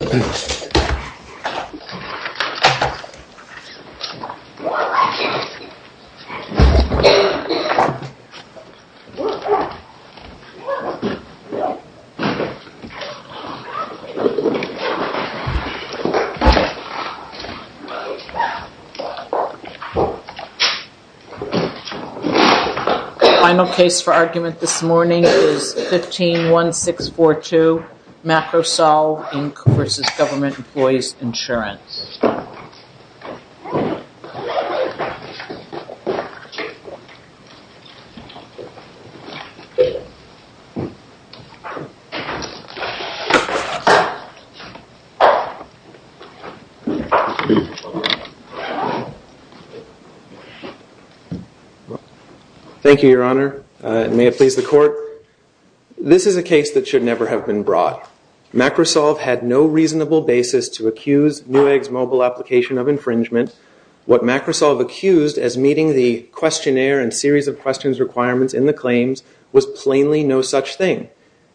Final case for argument this morning is 151642, MacroSolve, Inc. v. Government Employees Ins. This is a case that should never have been brought. MacroSolve had no reasonable basis to accuse Newegg's mobile application of infringement. What MacroSolve accused as meeting the questionnaire and series of questions requirements in the claims was plainly no such thing.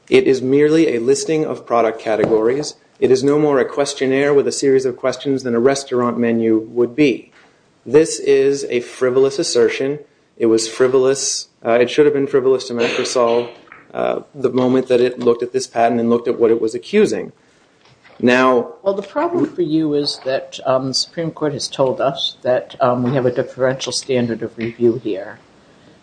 It is merely a listing of product categories. It is no more a questionnaire with a series of questions than a restaurant menu would be. This is a frivolous assertion. It was frivolous. It should have been frivolous to MacroSolve the moment that it looked at this patent and looked at what it was accusing. Now... Well, the problem for you is that the Supreme Court has told us that we have a deferential standard of review here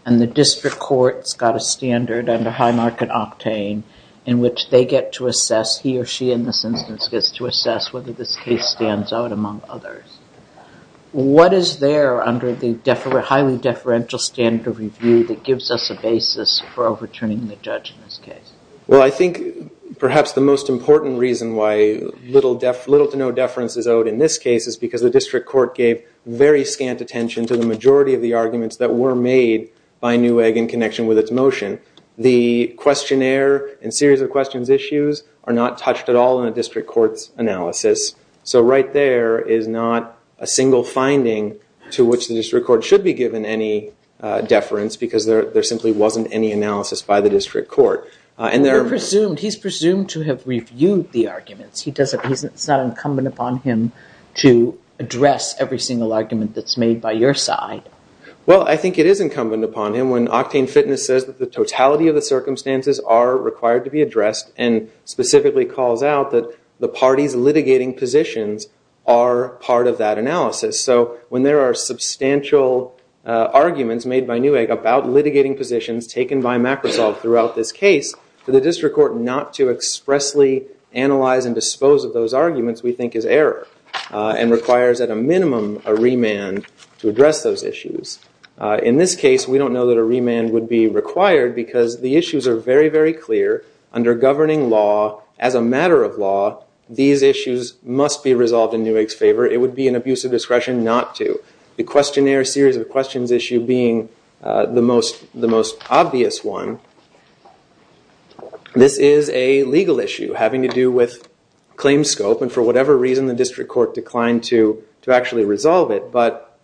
and the district court's got a standard under high market octane in which they get to assess, he or she in this instance gets to assess whether this case stands out among others. What is there under the highly deferential standard of review that gives us a basis for overturning the judge in this case? Well, I think perhaps the most important reason why little to no deference is owed in this case is because the district court gave very scant attention to the majority of the arguments that were made by Newegg in connection with its motion. The questionnaire and series of questions issues are not touched at all in a district court's analysis. So right there is not a single finding to which the district court should be given any deference because there simply wasn't any analysis by the district court. And there are... He's presumed to have reviewed the arguments. He doesn't... It's not incumbent upon him to address every single argument that's made by your side. Well, I think it is incumbent upon him when Octane Fitness says that the totality of the circumstances are required to be addressed and specifically calls out that the parties litigating positions are part of that analysis. So when there are substantial arguments made by Newegg about litigating positions taken by Macrosoft throughout this case, for the district court not to expressly analyze and dispose of those arguments we think is error and requires at a minimum a remand to address those issues. In this case, we don't know that a remand would be required because the issues are very, very clear. Under governing law, as a matter of law, these issues must be resolved in Newegg's favor. However, it would be an abuse of discretion not to. The questionnaire series of questions issue being the most obvious one. This is a legal issue having to do with claim scope and for whatever reason the district court declined to actually resolve it. But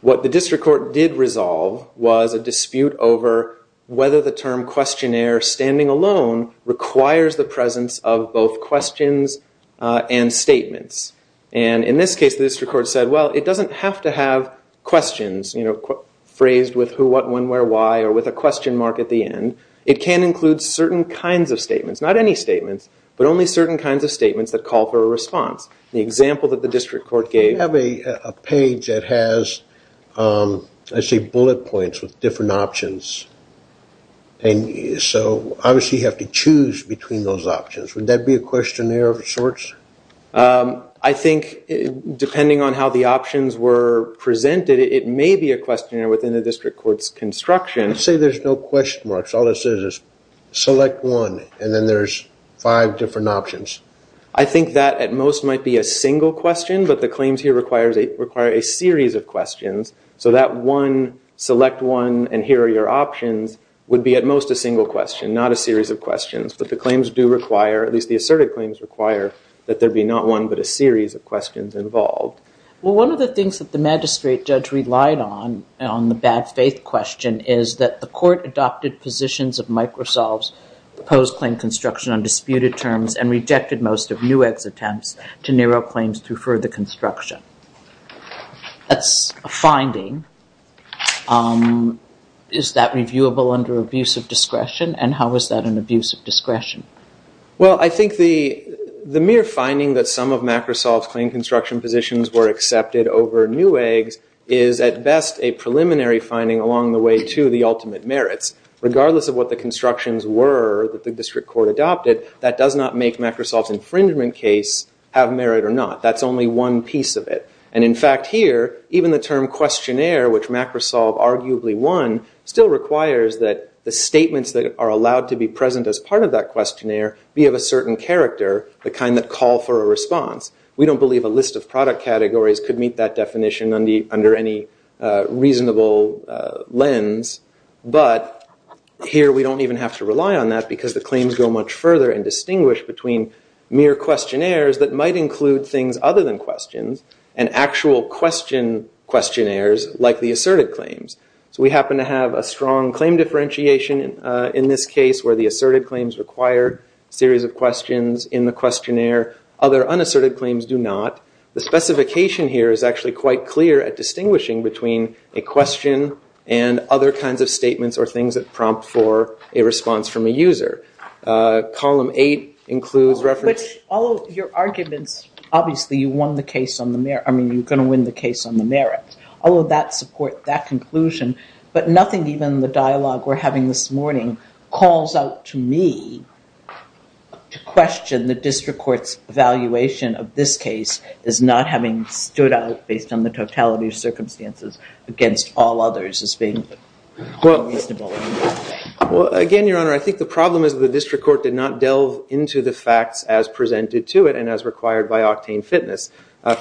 what the district court did resolve was a dispute over whether the term questionnaire standing alone requires the presence of both questions and statements. In this case, the district court said, well, it doesn't have to have questions phrased with who, what, when, where, why, or with a question mark at the end. It can include certain kinds of statements, not any statements, but only certain kinds of statements that call for a response. The example that the district court gave- I see bullet points with different options, and so obviously you have to choose between those options. Would that be a questionnaire of sorts? I think, depending on how the options were presented, it may be a questionnaire within the district court's construction. Let's say there's no question marks. All it says is select one, and then there's five different options. I think that, at most, might be a single question, but the claims here require a series of questions, so that one, select one, and here are your options, would be, at most, a single question, not a series of questions. But the claims do require, at least the asserted claims require, that there be not one but a series of questions involved. Well, one of the things that the magistrate judge relied on, on the bad faith question, is that the court adopted positions of Microsoft's proposed claim construction on disputed terms and rejected most of Newegg's attempts to narrow claims through further construction. That's a finding. Is that reviewable under abuse of discretion, and how is that an abuse of discretion? Well, I think the mere finding that some of Microsoft's claim construction positions were accepted over Newegg's is, at best, a preliminary finding along the way to the ultimate merits. Regardless of what the constructions were that the district court adopted, that does not make Microsoft's infringement case have merit or not. That's only one piece of it. And in fact, here, even the term questionnaire, which Microsoft arguably won, still requires that the statements that are allowed to be present as part of that questionnaire be of a certain character, the kind that call for a response. We don't believe a list of product categories could meet that definition under any reasonable lens, but here we don't even have to rely on that because the claims go much further and distinguish between mere questionnaires that might include things other than questions and actual questionnaires like the asserted claims. We happen to have a strong claim differentiation in this case where the asserted claims require series of questions in the questionnaire. Other unasserted claims do not. The specification here is actually quite clear at distinguishing between a question and other Column 8 includes reference. Although your arguments, obviously, you won the case on the merits. Although that support that conclusion, but nothing even the dialogue we're having this morning calls out to me to question the district court's evaluation of this case as not having stood out based on the totality of circumstances against all others as being reasonable. Well, again, your honor, I think the problem is the district court did not delve into the facts as presented to it and as required by Octane Fitness.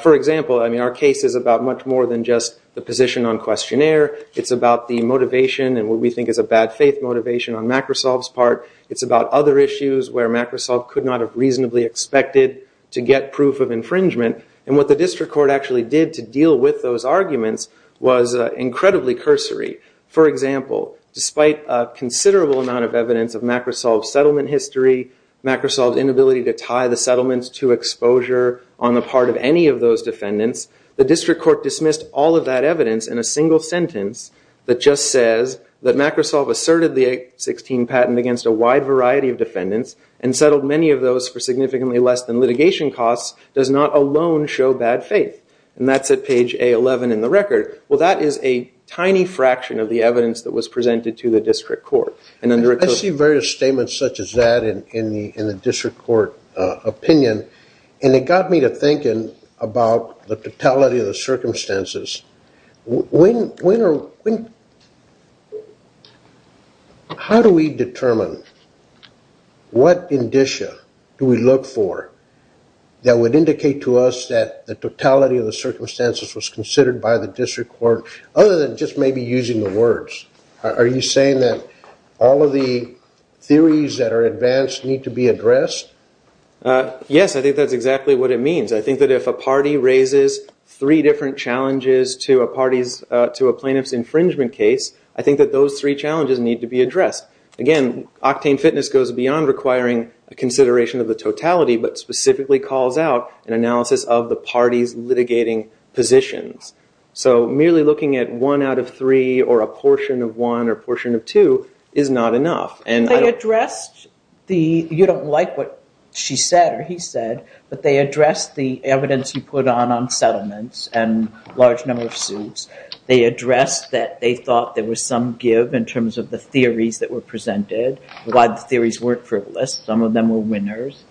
For example, I mean, our case is about much more than just the position on questionnaire. It's about the motivation and what we think is a bad faith motivation on Macrosoft's part. It's about other issues where Macrosoft could not have reasonably expected to get proof of infringement. And what the district court actually did to deal with those arguments was incredibly cursory. For example, despite a considerable amount of evidence of Macrosoft's settlement history, Macrosoft's inability to tie the settlements to exposure on the part of any of those defendants, the district court dismissed all of that evidence in a single sentence that just says that Macrosoft asserted the 816 patent against a wide variety of defendants and settled many of those for significantly less than litigation costs does not alone show bad faith. And that's at page A11 in the record. Well, that is a tiny fraction of the evidence that was presented to the district court. I see various statements such as that in the district court opinion, and it got me to thinking about the totality of the circumstances. How do we determine what indicia do we look for that would indicate to us that the totality of the circumstances was considered by the district court, other than just maybe using the words? Are you saying that all of the theories that are advanced need to be addressed? Yes, I think that's exactly what it means. I think that if a party raises three different challenges to a plaintiff's infringement case, I think that those three challenges need to be addressed. Again, octane fitness goes beyond requiring a consideration of the totality, but specifically calls out an analysis of the party's litigating positions. So merely looking at one out of three, or a portion of one, or a portion of two is not enough. They addressed the, you don't like what she said or he said, but they addressed the evidence you put on on settlements and large number of suits. They addressed that they thought there was some give in terms of the theories that were presented. A lot of the theories weren't frivolous. Some of them were winners.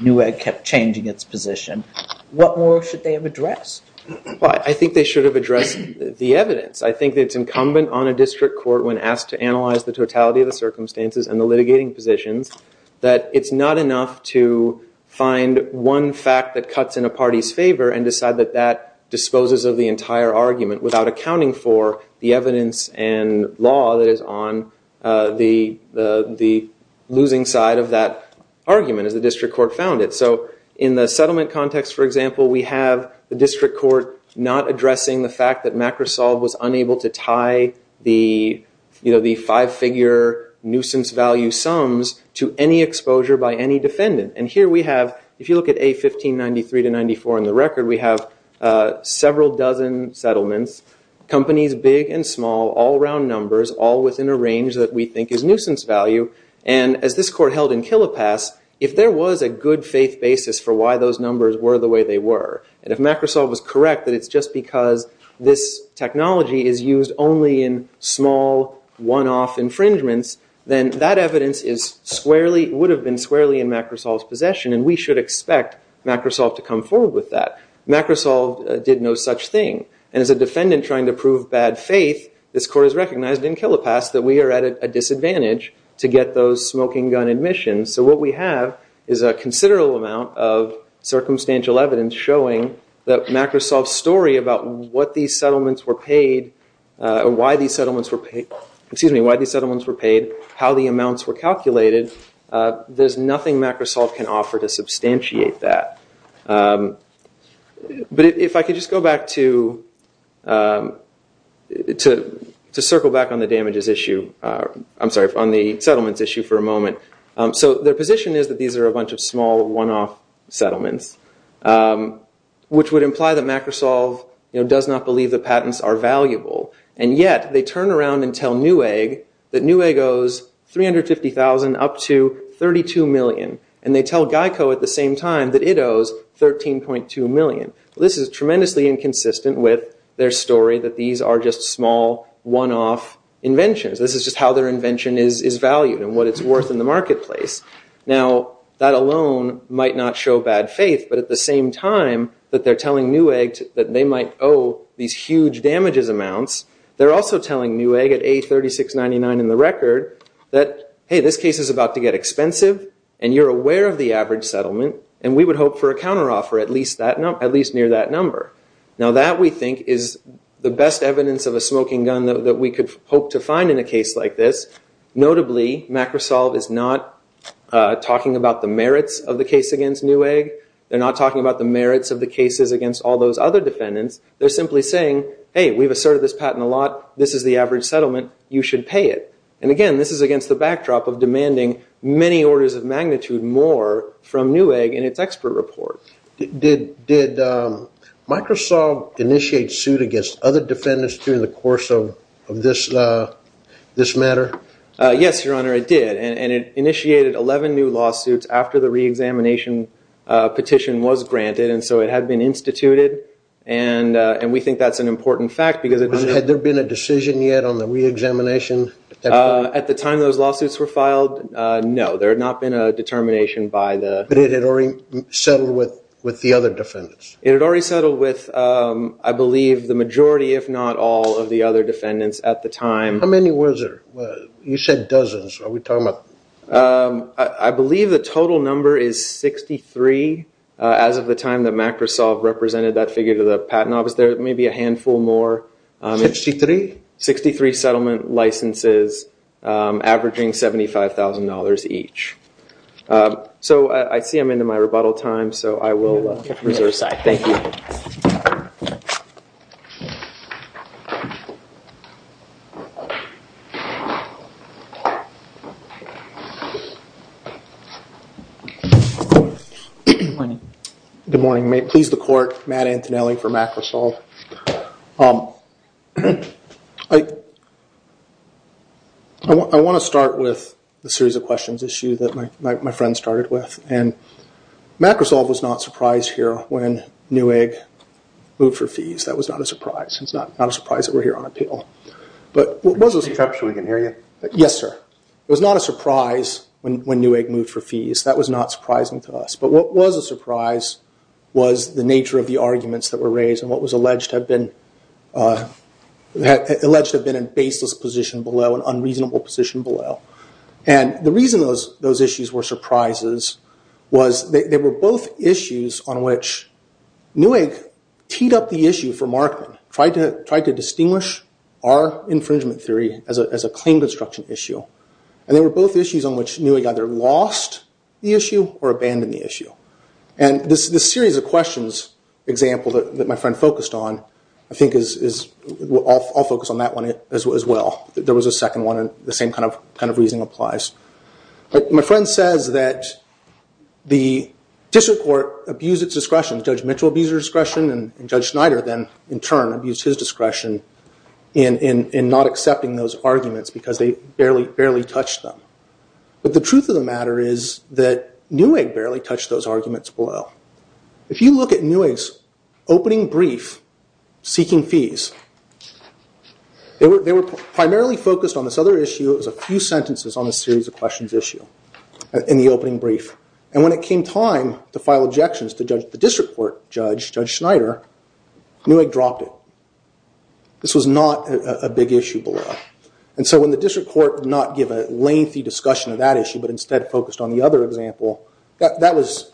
Newegg kept changing its position. What more should they have addressed? I think they should have addressed the evidence. I think that it's incumbent on a district court, when asked to analyze the totality of the circumstances and the litigating positions, that it's not enough to find one fact that cuts in a party's favor and decide that that disposes of the entire argument without accounting for the evidence and law that is on the losing side of that argument, as the district court found it. So in the settlement context, for example, we have the district court not addressing the fact that MacRosolv was unable to tie the five figure nuisance value sums to any exposure by any defendant. And here we have, if you look at A1593 to 94 in the record, we have several dozen settlements companies, big and small, all around numbers, all within a range that we think is nuisance value. And as this court held in Killepass, if there was a good faith basis for why those numbers were the way they were, and if MacRosolv was correct that it's just because this technology is used only in small, one-off infringements, then that evidence would have been squarely in MacRosolv's possession, and we should expect MacRosolv to come forward with that. MacRosolv did no such thing. And as a defendant trying to prove bad faith, this court has recognized in Killepass that we are at a disadvantage to get those smoking gun admissions. So what we have is a considerable amount of circumstantial evidence showing that MacRosolv's story about why these settlements were paid, how the amounts were calculated, there's nothing MacRosolv can offer to substantiate that. But if I could just go back to circle back on the damages issue, I'm sorry, on the settlements issue for a moment. So their position is that these are a bunch of small, one-off settlements, which would imply that MacRosolv does not believe the patents are valuable, and yet they turn around and tell Newegg that Newegg owes $350,000 up to $32 million. And they tell GEICO at the same time that it owes $13.2 million. This is tremendously inconsistent with their story that these are just small, one-off inventions. This is just how their invention is valued and what it's worth in the marketplace. Now that alone might not show bad faith, but at the same time that they're telling Newegg that they might owe these huge damages amounts, they're also telling Newegg at $836.99 in the record that, hey, this case is about to get expensive, and you're aware of the average settlement, and we would hope for a counteroffer at least near that number. Now that, we think, is the best evidence of a smoking gun that we could hope to find in a case like this. Notably, MacRosolv is not talking about the merits of the case against Newegg. They're not talking about the merits of the cases against all those other defendants. They're simply saying, hey, we've asserted this patent a lot. This is the average settlement. You should pay it. And again, this is against the backdrop of demanding many orders of magnitude more from Newegg in its expert report. Did MacRosolv initiate suit against other defendants during the course of this matter? Yes, Your Honor, it did, and it initiated 11 new lawsuits after the reexamination petition was granted, and so it had been instituted, and we think that's an important fact because Had there been a decision yet on the reexamination? At the time those lawsuits were filed, no, there had not been a determination by the But it had already settled with the other defendants? It had already settled with, I believe, the majority, if not all, of the other defendants at the time. How many was there? You said dozens. Are we talking about? I believe the total number is 63 as of the time that MacRosolv represented that figure to the patent office. There may be a handful more. 63? 63 settlement licenses, averaging $75,000 each. So I see I'm into my rebuttal time, so I will reserve that. Thank you. Good morning. Good morning. Please the court, Matt Antonelli for MacRosolv. I want to start with a series of questions that my friend started with, and MacRosolv was not surprised here when Newegg moved for fees. That was not a surprise. It's not a surprise that we're here on appeal. But what was a surprise? Perhaps we can hear you. Yes, sir. It was not a surprise when Newegg moved for fees. That was not surprising to us. But what was a surprise was the nature of the arguments that were raised and what was alleged to have been an baseless position below, an unreasonable position below. The reason those issues were surprises was they were both issues on which Newegg teed up the issue for Markman, tried to distinguish our infringement theory as a claim construction issue. And they were both issues on which Newegg either lost the issue or abandoned the issue. And this series of questions example that my friend focused on, I think, I'll focus on that one as well. There was a second one, and the same kind of reasoning applies. My friend says that the district court abused its discretion. Judge Mitchell abused his discretion, and Judge Schneider then, in turn, abused his arguments because they barely touched them. But the truth of the matter is that Newegg barely touched those arguments below. If you look at Newegg's opening brief seeking fees, they were primarily focused on this other issue. It was a few sentences on the series of questions issue in the opening brief. And when it came time to file objections to the district court judge, Judge Schneider, Newegg dropped it. This was not a big issue below. And so when the district court did not give a lengthy discussion of that issue, but instead focused on the other example, that was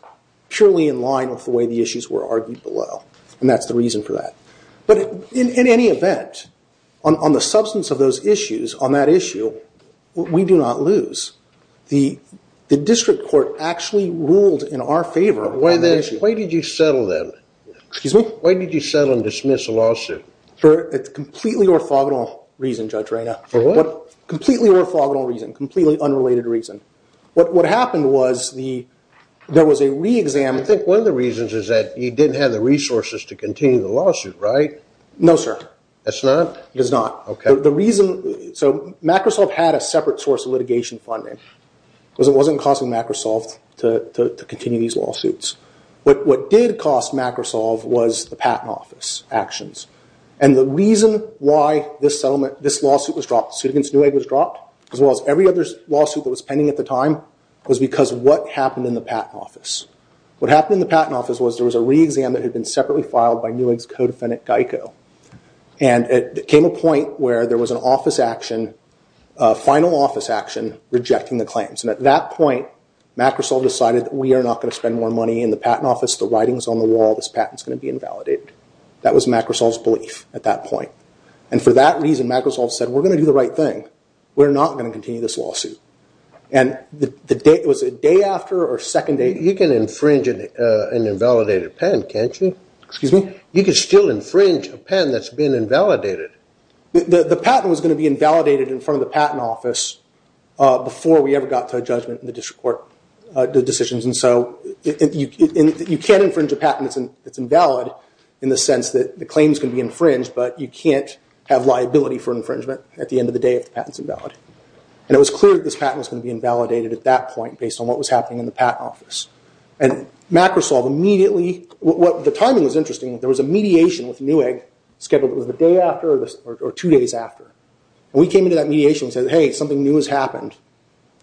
purely in line with the way the issues were argued below. And that's the reason for that. But in any event, on the substance of those issues, on that issue, we do not lose. The district court actually ruled in our favor on that issue. Why did you settle them? Excuse me? Why did you settle and dismiss a lawsuit? It's completely orthogonal reason, Judge Reyna. For what? Completely orthogonal reason. Completely unrelated reason. What happened was there was a re-exam. I think one of the reasons is that you didn't have the resources to continue the lawsuit, right? No, sir. That's not? It is not. OK. The reason... So, Microsoft had a separate source of litigation funding. It wasn't costing Microsoft to continue these lawsuits. What did cost Microsoft was the Patent Office actions. And the reason why this lawsuit was dropped, the suit against Newegg was dropped, as well as every other lawsuit that was pending at the time, was because of what happened in the Patent Office. What happened in the Patent Office was there was a re-exam that had been separately filed by Newegg's co-defendant, Geico. And it came to a point where there was an office action, a final office action, rejecting the claims. And at that point, Microsoft decided we are not going to spend more money in the Patent Office. The writing's on the wall. This patent's going to be invalidated. That was Microsoft's belief at that point. And for that reason, Microsoft said, we're going to do the right thing. We're not going to continue this lawsuit. And the day... It was a day after or second day... You can infringe an invalidated pen, can't you? Excuse me? You can still infringe a pen that's been invalidated. The patent was going to be invalidated in front of the Patent Office before we ever got to a judgment in the district court decisions. And so you can infringe a patent that's invalid in the sense that the claims can be infringed, but you can't have liability for infringement at the end of the day if the patent's invalid. And it was clear that this patent was going to be invalidated at that point based on what was happening in the Patent Office. And Microsoft immediately... The timing was interesting. There was a mediation with Newegg scheduled for the day after or two days after. We came into that mediation and said, hey, something new has happened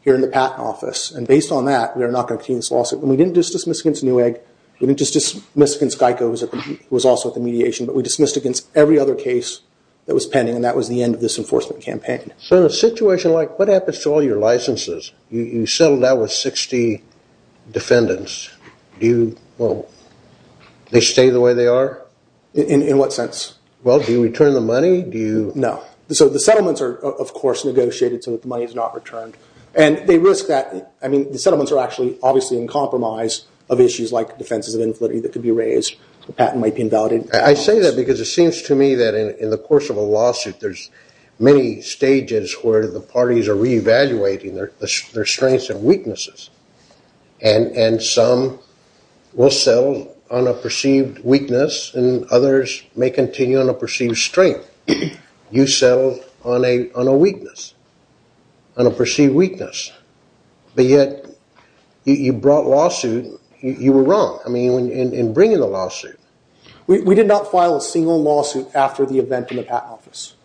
here in the Patent Office. And based on that, we are not going to continue this lawsuit. And we didn't just dismiss against Newegg. We didn't just dismiss against Geico, who was also at the mediation. But we dismissed against every other case that was pending. And that was the end of this enforcement campaign. So in a situation like... What happens to all your licenses? You settled out with 60 defendants. Do you... Well, they stay the way they are? In what sense? Well, do you return the money? Do you... No. So the settlements are, of course, negotiated so that the money is not returned. And they risk that... I mean, the settlements are actually obviously in compromise of issues like defenses of inflicted that could be raised. The patent might be invalidated. I say that because it seems to me that in the course of a lawsuit, there's many stages where the parties are reevaluating their strengths and weaknesses. And some will settle on a perceived weakness, and others may continue on a perceived strength. You settled on a weakness, on a perceived weakness, but yet you brought lawsuit. You were wrong, I mean, in bringing the lawsuit. We did not file a single lawsuit after the event in the patent office.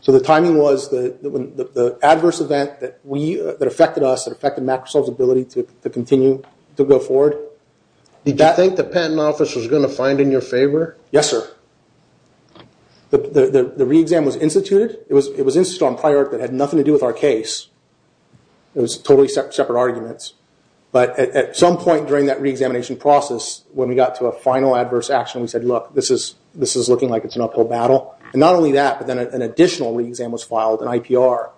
So the timing was the adverse event that affected us, that affected Microsoft's ability to continue to go forward. Did you think the patent office was going to find in your favor? Yes, sir. The re-exam was instituted. It was instituted on prior that had nothing to do with our case. It was totally separate arguments. But at some point during that re-examination process, when we got to a final adverse action, we said, look, this is looking like it's an uphill battle. And not only that, but then an additional re-exam was filed, an IPR.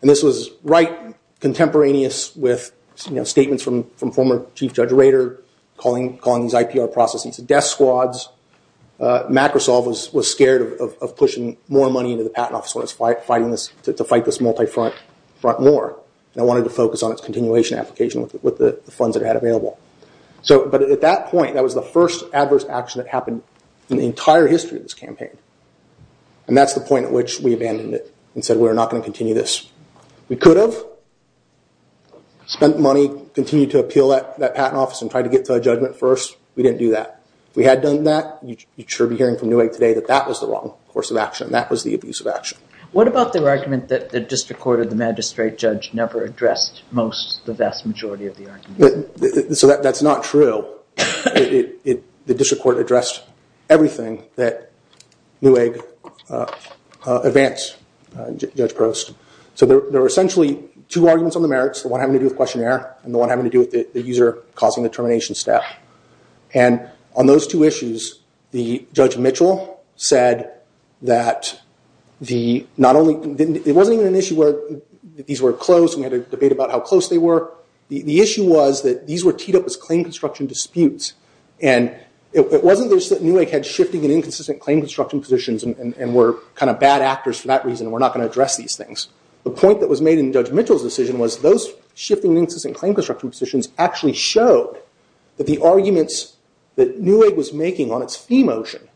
And this was right contemporaneous with statements from former Chief Judge Rader, calling these IPR processes death squads. Microsoft was scared of pushing more money into the patent office to fight this multi-front war, and wanted to focus on its continuation application with the funds it had available. But at that point, that was the first adverse action that happened in the entire history of this campaign. And that's the point at which we abandoned it, and said we're not going to continue this. We could have spent money, continued to appeal that patent office, and tried to get to a judgment first. We didn't do that. If we had done that, you'd sure be hearing from Newegg today that that was the wrong course of action. That was the abuse of action. What about the argument that the district court or the magistrate judge never addressed most, the vast majority of the arguments? So that's not true. The district court addressed everything that Newegg advanced, Judge Prost. So there were essentially two arguments on the merits, the one having to do with questionnaire, and the one having to do with the user causing the termination step. And on those two issues, the Judge Mitchell said that the not only didn't, it wasn't even an issue where these were close, and we had a debate about how close they were. The issue was that these were teed up as claim construction disputes. And it wasn't that Newegg had shifting and inconsistent claim construction positions, and were kind of bad actors for that reason, and we're not going to address these things. The point that was made in Judge Mitchell's decision was those shifting and inconsistent claim construction positions actually showed that the arguments that Newegg was making on its fee motion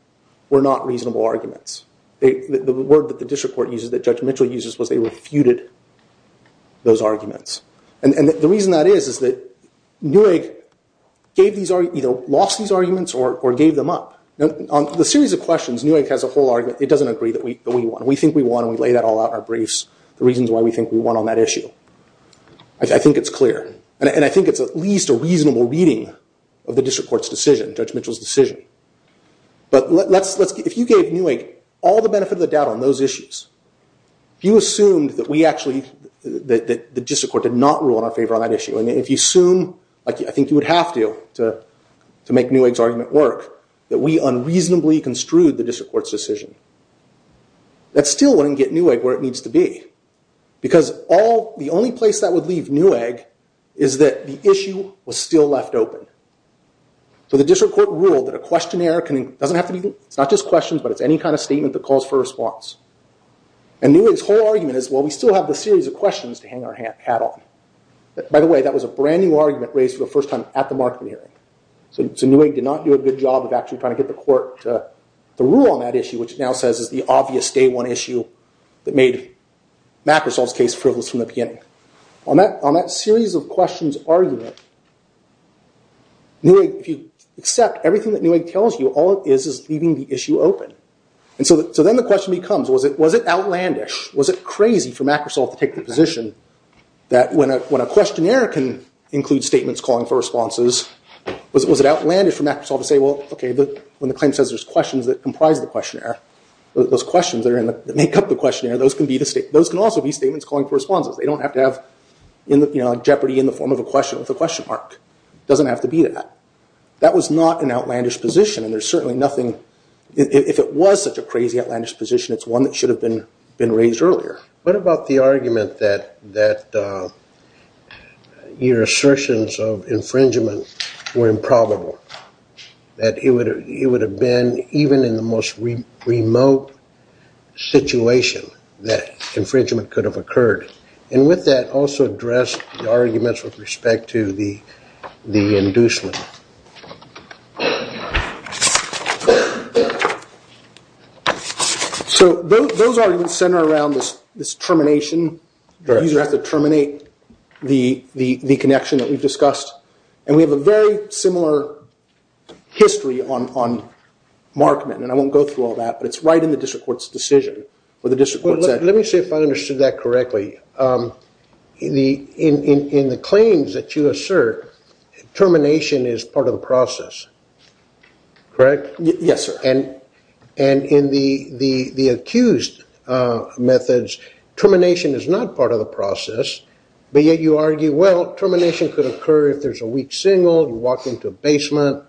were not reasonable arguments. The word that the district court uses, that Judge Mitchell uses, was they refuted those arguments. And the reason that is is that Newegg either lost these arguments or gave them up. On the series of questions, Newegg has a whole argument. It doesn't agree that we won. We think we won. We lay that all out in our briefs, the reasons why we think we won on that issue. I think it's clear. And I think it's at least a reasonable reading of the district court's decision, Judge Mitchell's decision. But if you gave Newegg all the benefit of the doubt on those issues, if you assumed that we actually, that the district court did not rule in our favor on that issue, and if you assume, like I think you would have to to make Newegg's argument work, that we unreasonably construed the district court's decision, that's still wouldn't get Newegg where it needs to be. Because the only place that would leave Newegg is that the issue was still left open. So the district court ruled that a questionnaire doesn't have to be, it's not just questions, but it's any kind of statement that calls for a response. And Newegg's whole argument is, well, we still have the series of questions to hang our hat on. By the way, that was a brand new argument raised for the first time at the Markham hearing. So Newegg did not do a good job of actually trying to get the court to rule on that issue, which now says is the obvious day one issue that made MacRussell's case frivolous from the beginning. On that series of questions argument, Newegg, if you accept everything that Newegg tells you, all it is is leaving the issue open. And so then the question becomes, was it outlandish, was it crazy for MacRussell to take the position that when a questionnaire can include statements calling for responses, was it outlandish for MacRussell to say, well, OK, when the claim says there's questions that comprise the questionnaire, those questions that make up the questionnaire, those can also be statements calling for responses. They don't have to have jeopardy in the form of a question with a question mark. Doesn't have to be that. That was not an outlandish position. And there's certainly nothing, if it was such a crazy outlandish position, it's one that should have been raised earlier. What about the argument that your assertions of infringement were improbable, that it would have been even in the most remote situation that infringement could have occurred. And with that, also address the arguments with respect to the inducement. So those arguments center around this termination. You either have to terminate the connection that we've discussed. And we have a very similar history on Markman, and I won't go through all that, but it's right in the district court's decision. Let me see if I understood that correctly. In the claims that you assert, termination is part of the process, correct? Yes, sir. And in the accused methods, termination is not part of the process, but yet you argue, well, termination could occur if there's a weak signal, you walk into a basement,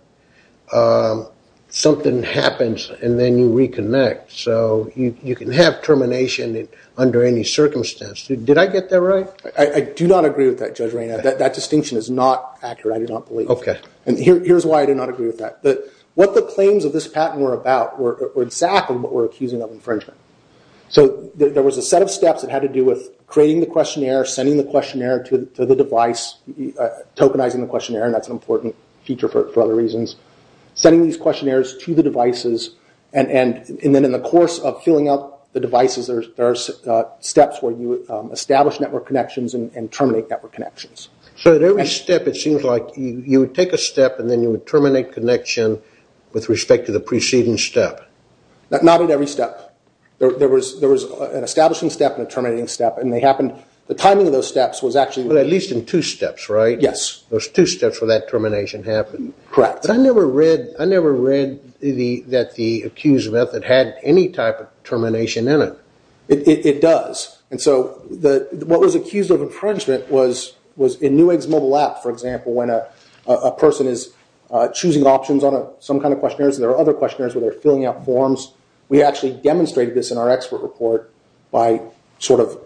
something happens, and then you reconnect. So you can have termination under any circumstance. Did I get that right? I do not agree with that, Judge Rayner. That distinction is not accurate. I do not believe it. And here's why I do not agree with that. What the claims of this patent were about were exactly what we're accusing of infringement. So there was a set of steps that had to do with creating the questionnaire, sending the questionnaire to the device, tokenizing the questionnaire, and that's an important feature for other reasons, sending these questionnaires to the devices, and then in the course of filling out the devices, there are steps where you establish network connections and terminate network connections. So at every step, it seems like you would take a step and then you would terminate connection with respect to the preceding step. Not at every step. There was an establishing step and a terminating step, and the timing of those steps was actually... Well, at least in two steps, right? Yes. Those two steps where that termination happened. Correct. I never read that the accused method had any type of termination in it. It does. And so what was accused of infringement was in Newegg's mobile app, for example, when a person is choosing options on some kind of questionnaires, there are other questionnaires where they're filling out forms. We actually demonstrated this in our expert report by sort of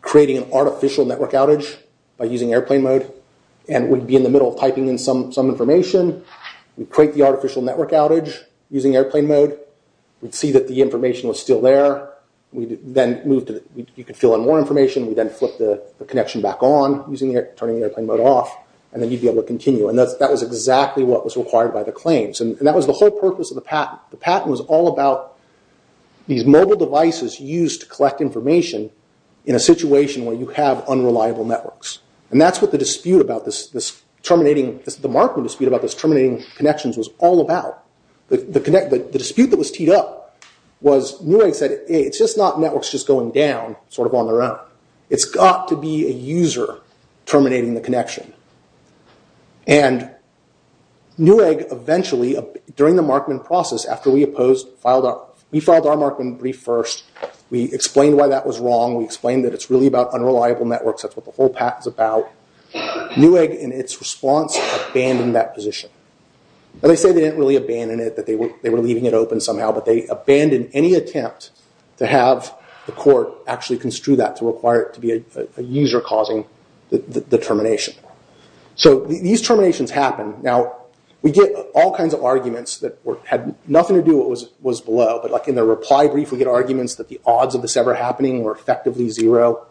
creating an artificial network outage by using airplane mode and we'd be in the middle of typing in some information. We'd create the artificial network outage using airplane mode. We'd see that the information was still there. We'd then move to... You could fill in more information. We'd then flip the connection back on, turning airplane mode off, and then you'd be able to continue. And that was exactly what was required by the claims. And that was the whole purpose of the patent. The patent was all about these mobile devices used to collect information in a situation where you have unreliable networks. And that's what the dispute about this terminating... the Markman dispute about this terminating connections was all about. The dispute that was teed up was Newegg said, hey, it's just not networks just going down sort of on their own. It's got to be a user terminating the connection. And Newegg eventually, during the Markman process, after we filed our Markman brief first, we explained why that was wrong. We explained that it's really about unreliable networks. That's what the whole patent is about. Newegg, in its response, abandoned that position. And they say they didn't really abandon it, that they were leaving it open somehow, but they abandoned any attempt to have the court actually construe that to require it to be a user causing the termination. So these terminations happen. Now, we get all kinds of arguments that had nothing to do with what was below, but like in the reply brief, we get arguments that the odds of this ever happening were effectively zero.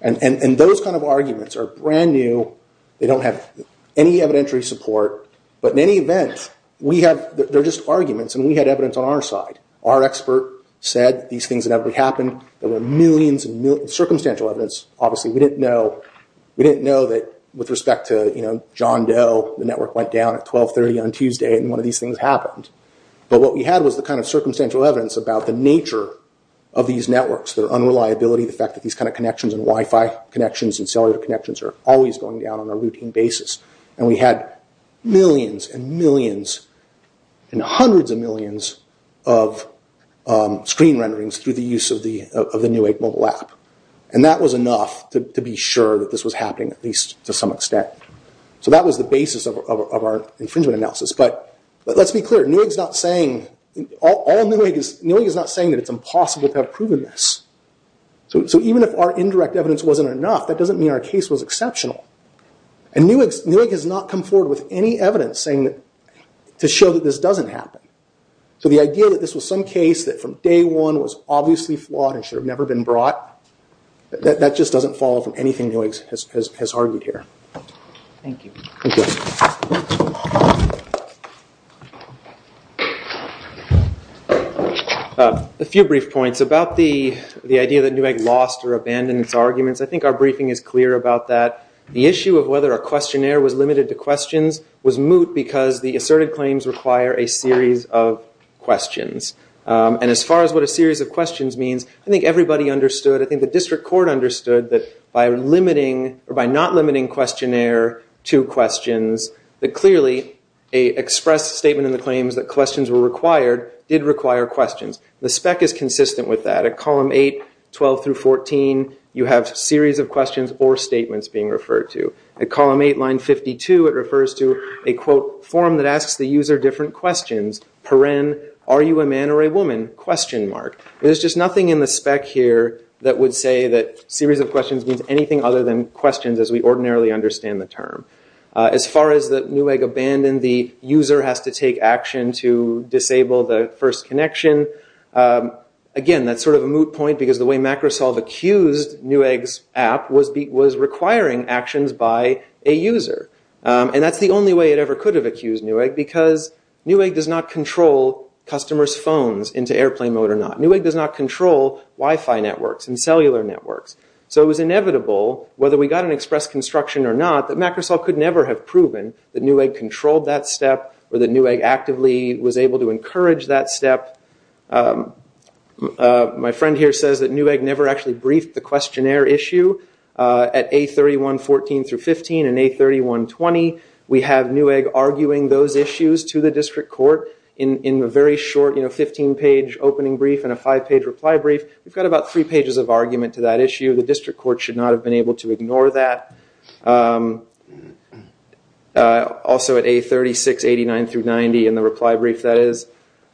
And those kind of arguments are brand new. They don't have any evidentiary support. But in any event, they're just arguments, and we had evidence on our side. Our expert said these things inevitably happen. There were millions of circumstantial evidence. Obviously, we didn't know that with respect to John Doe, the network went down at 12.30 on Tuesday and one of these things happened. But what we had was the kind of circumstantial evidence about the nature of these networks, their unreliability, the fact that these kind of connections and Wi-Fi connections and cellular connections are always going down on a routine basis. And we had millions and millions and hundreds of millions of screen renderings through the use of the Newegg mobile app. And that was enough to be sure that this was happening at least to some extent. So that was the basis of our infringement analysis. But let's be clear, Newegg is not saying that it's impossible to have proven this. So even if our indirect evidence wasn't enough, that doesn't mean our case was exceptional. And Newegg has not come forward with any evidence to show that this doesn't happen. So the idea that this was some case that from day one was obviously flawed and should have never been brought, that just doesn't fall from anything Newegg has argued here. Thank you. Thank you. A few brief points about the idea that Newegg lost or abandoned its arguments. I think our briefing is clear about that. The issue of whether a questionnaire was limited to questions was moot because the asserted claims require a series of questions. And as far as what a series of questions means, I think everybody understood. I think the district court understood that by limiting or by not limiting questionnaire to questions, that clearly a expressed statement in the claims that questions were required did require questions. The spec is consistent with that. At column 8, 12 through 14, you have series of questions or statements being referred to. At column 8, line 52, it refers to a, quote, form that asks the user different questions. Paren, are you a man or a woman, question mark. There's just nothing in the spec here that would say that series of questions means anything other than questions, as we ordinarily understand the term. As far as the Newegg abandoned, the user has to take action to disable the first connection. Again, that's sort of a moot point because the way Microsoft accused Newegg's app was requiring actions by a user. And that's the only way it ever could have accused Newegg, because Newegg does not control customers' phones into airplane mode or not. Newegg does not control Wi-Fi networks and cellular networks. So it was inevitable, whether we got an express construction or not, that Microsoft could never have proven that Newegg controlled that step or that Newegg actively was able to encourage that step. My friend here says that Newegg never actually briefed the questionnaire issue at A3114 through 15 and A3120. We have Newegg arguing those issues to the district court in a very short 15-page opening brief and a five-page reply brief. We've got about three pages of argument to that issue. The district court should not have been able to ignore that. Also at A3689 through 90 in the reply brief, that is.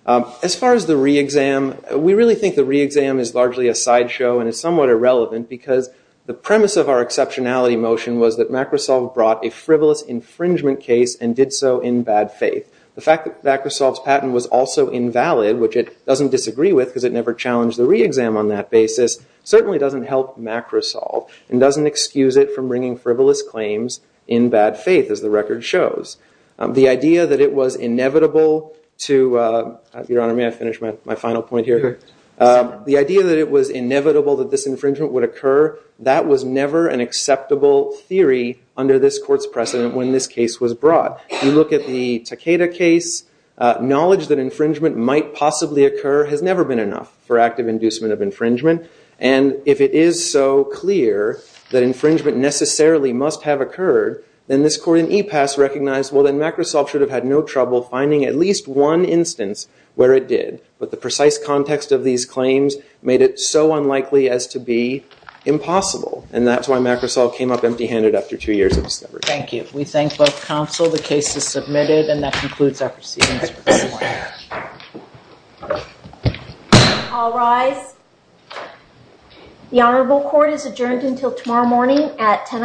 As far as the re-exam, we really think the re-exam is largely a sideshow and is somewhat irrelevant because the premise of our exceptionality motion was that Microsoft brought a frivolous infringement case and did so in bad faith. The fact that Microsoft's patent was also invalid, which it doesn't disagree with because it never challenged the re-exam on that basis, certainly doesn't help macro-solve and doesn't excuse it from bringing frivolous claims in bad faith, as the record shows. The idea that it was inevitable to, Your Honor, may I finish my final point here? The idea that it was inevitable that this infringement would occur, that was never an acceptable theory under this court's precedent when this case was brought. You look at the Takeda case, knowledge that infringement might possibly occur has never been enough for active inducement of infringement. And if it is so clear that infringement necessarily must have occurred, then this court in e-pass recognized, well, then Microsoft should have had no trouble finding at least one instance where it did. But the precise context of these claims made it so unlikely as to be impossible. And that's why macro-solve came up empty handed after two years of discovery. Thank you. We thank both counsel. The case is submitted and that concludes our proceedings. I'll rise. The Honourable Court is adjourned until tomorrow morning at 10 o'clock.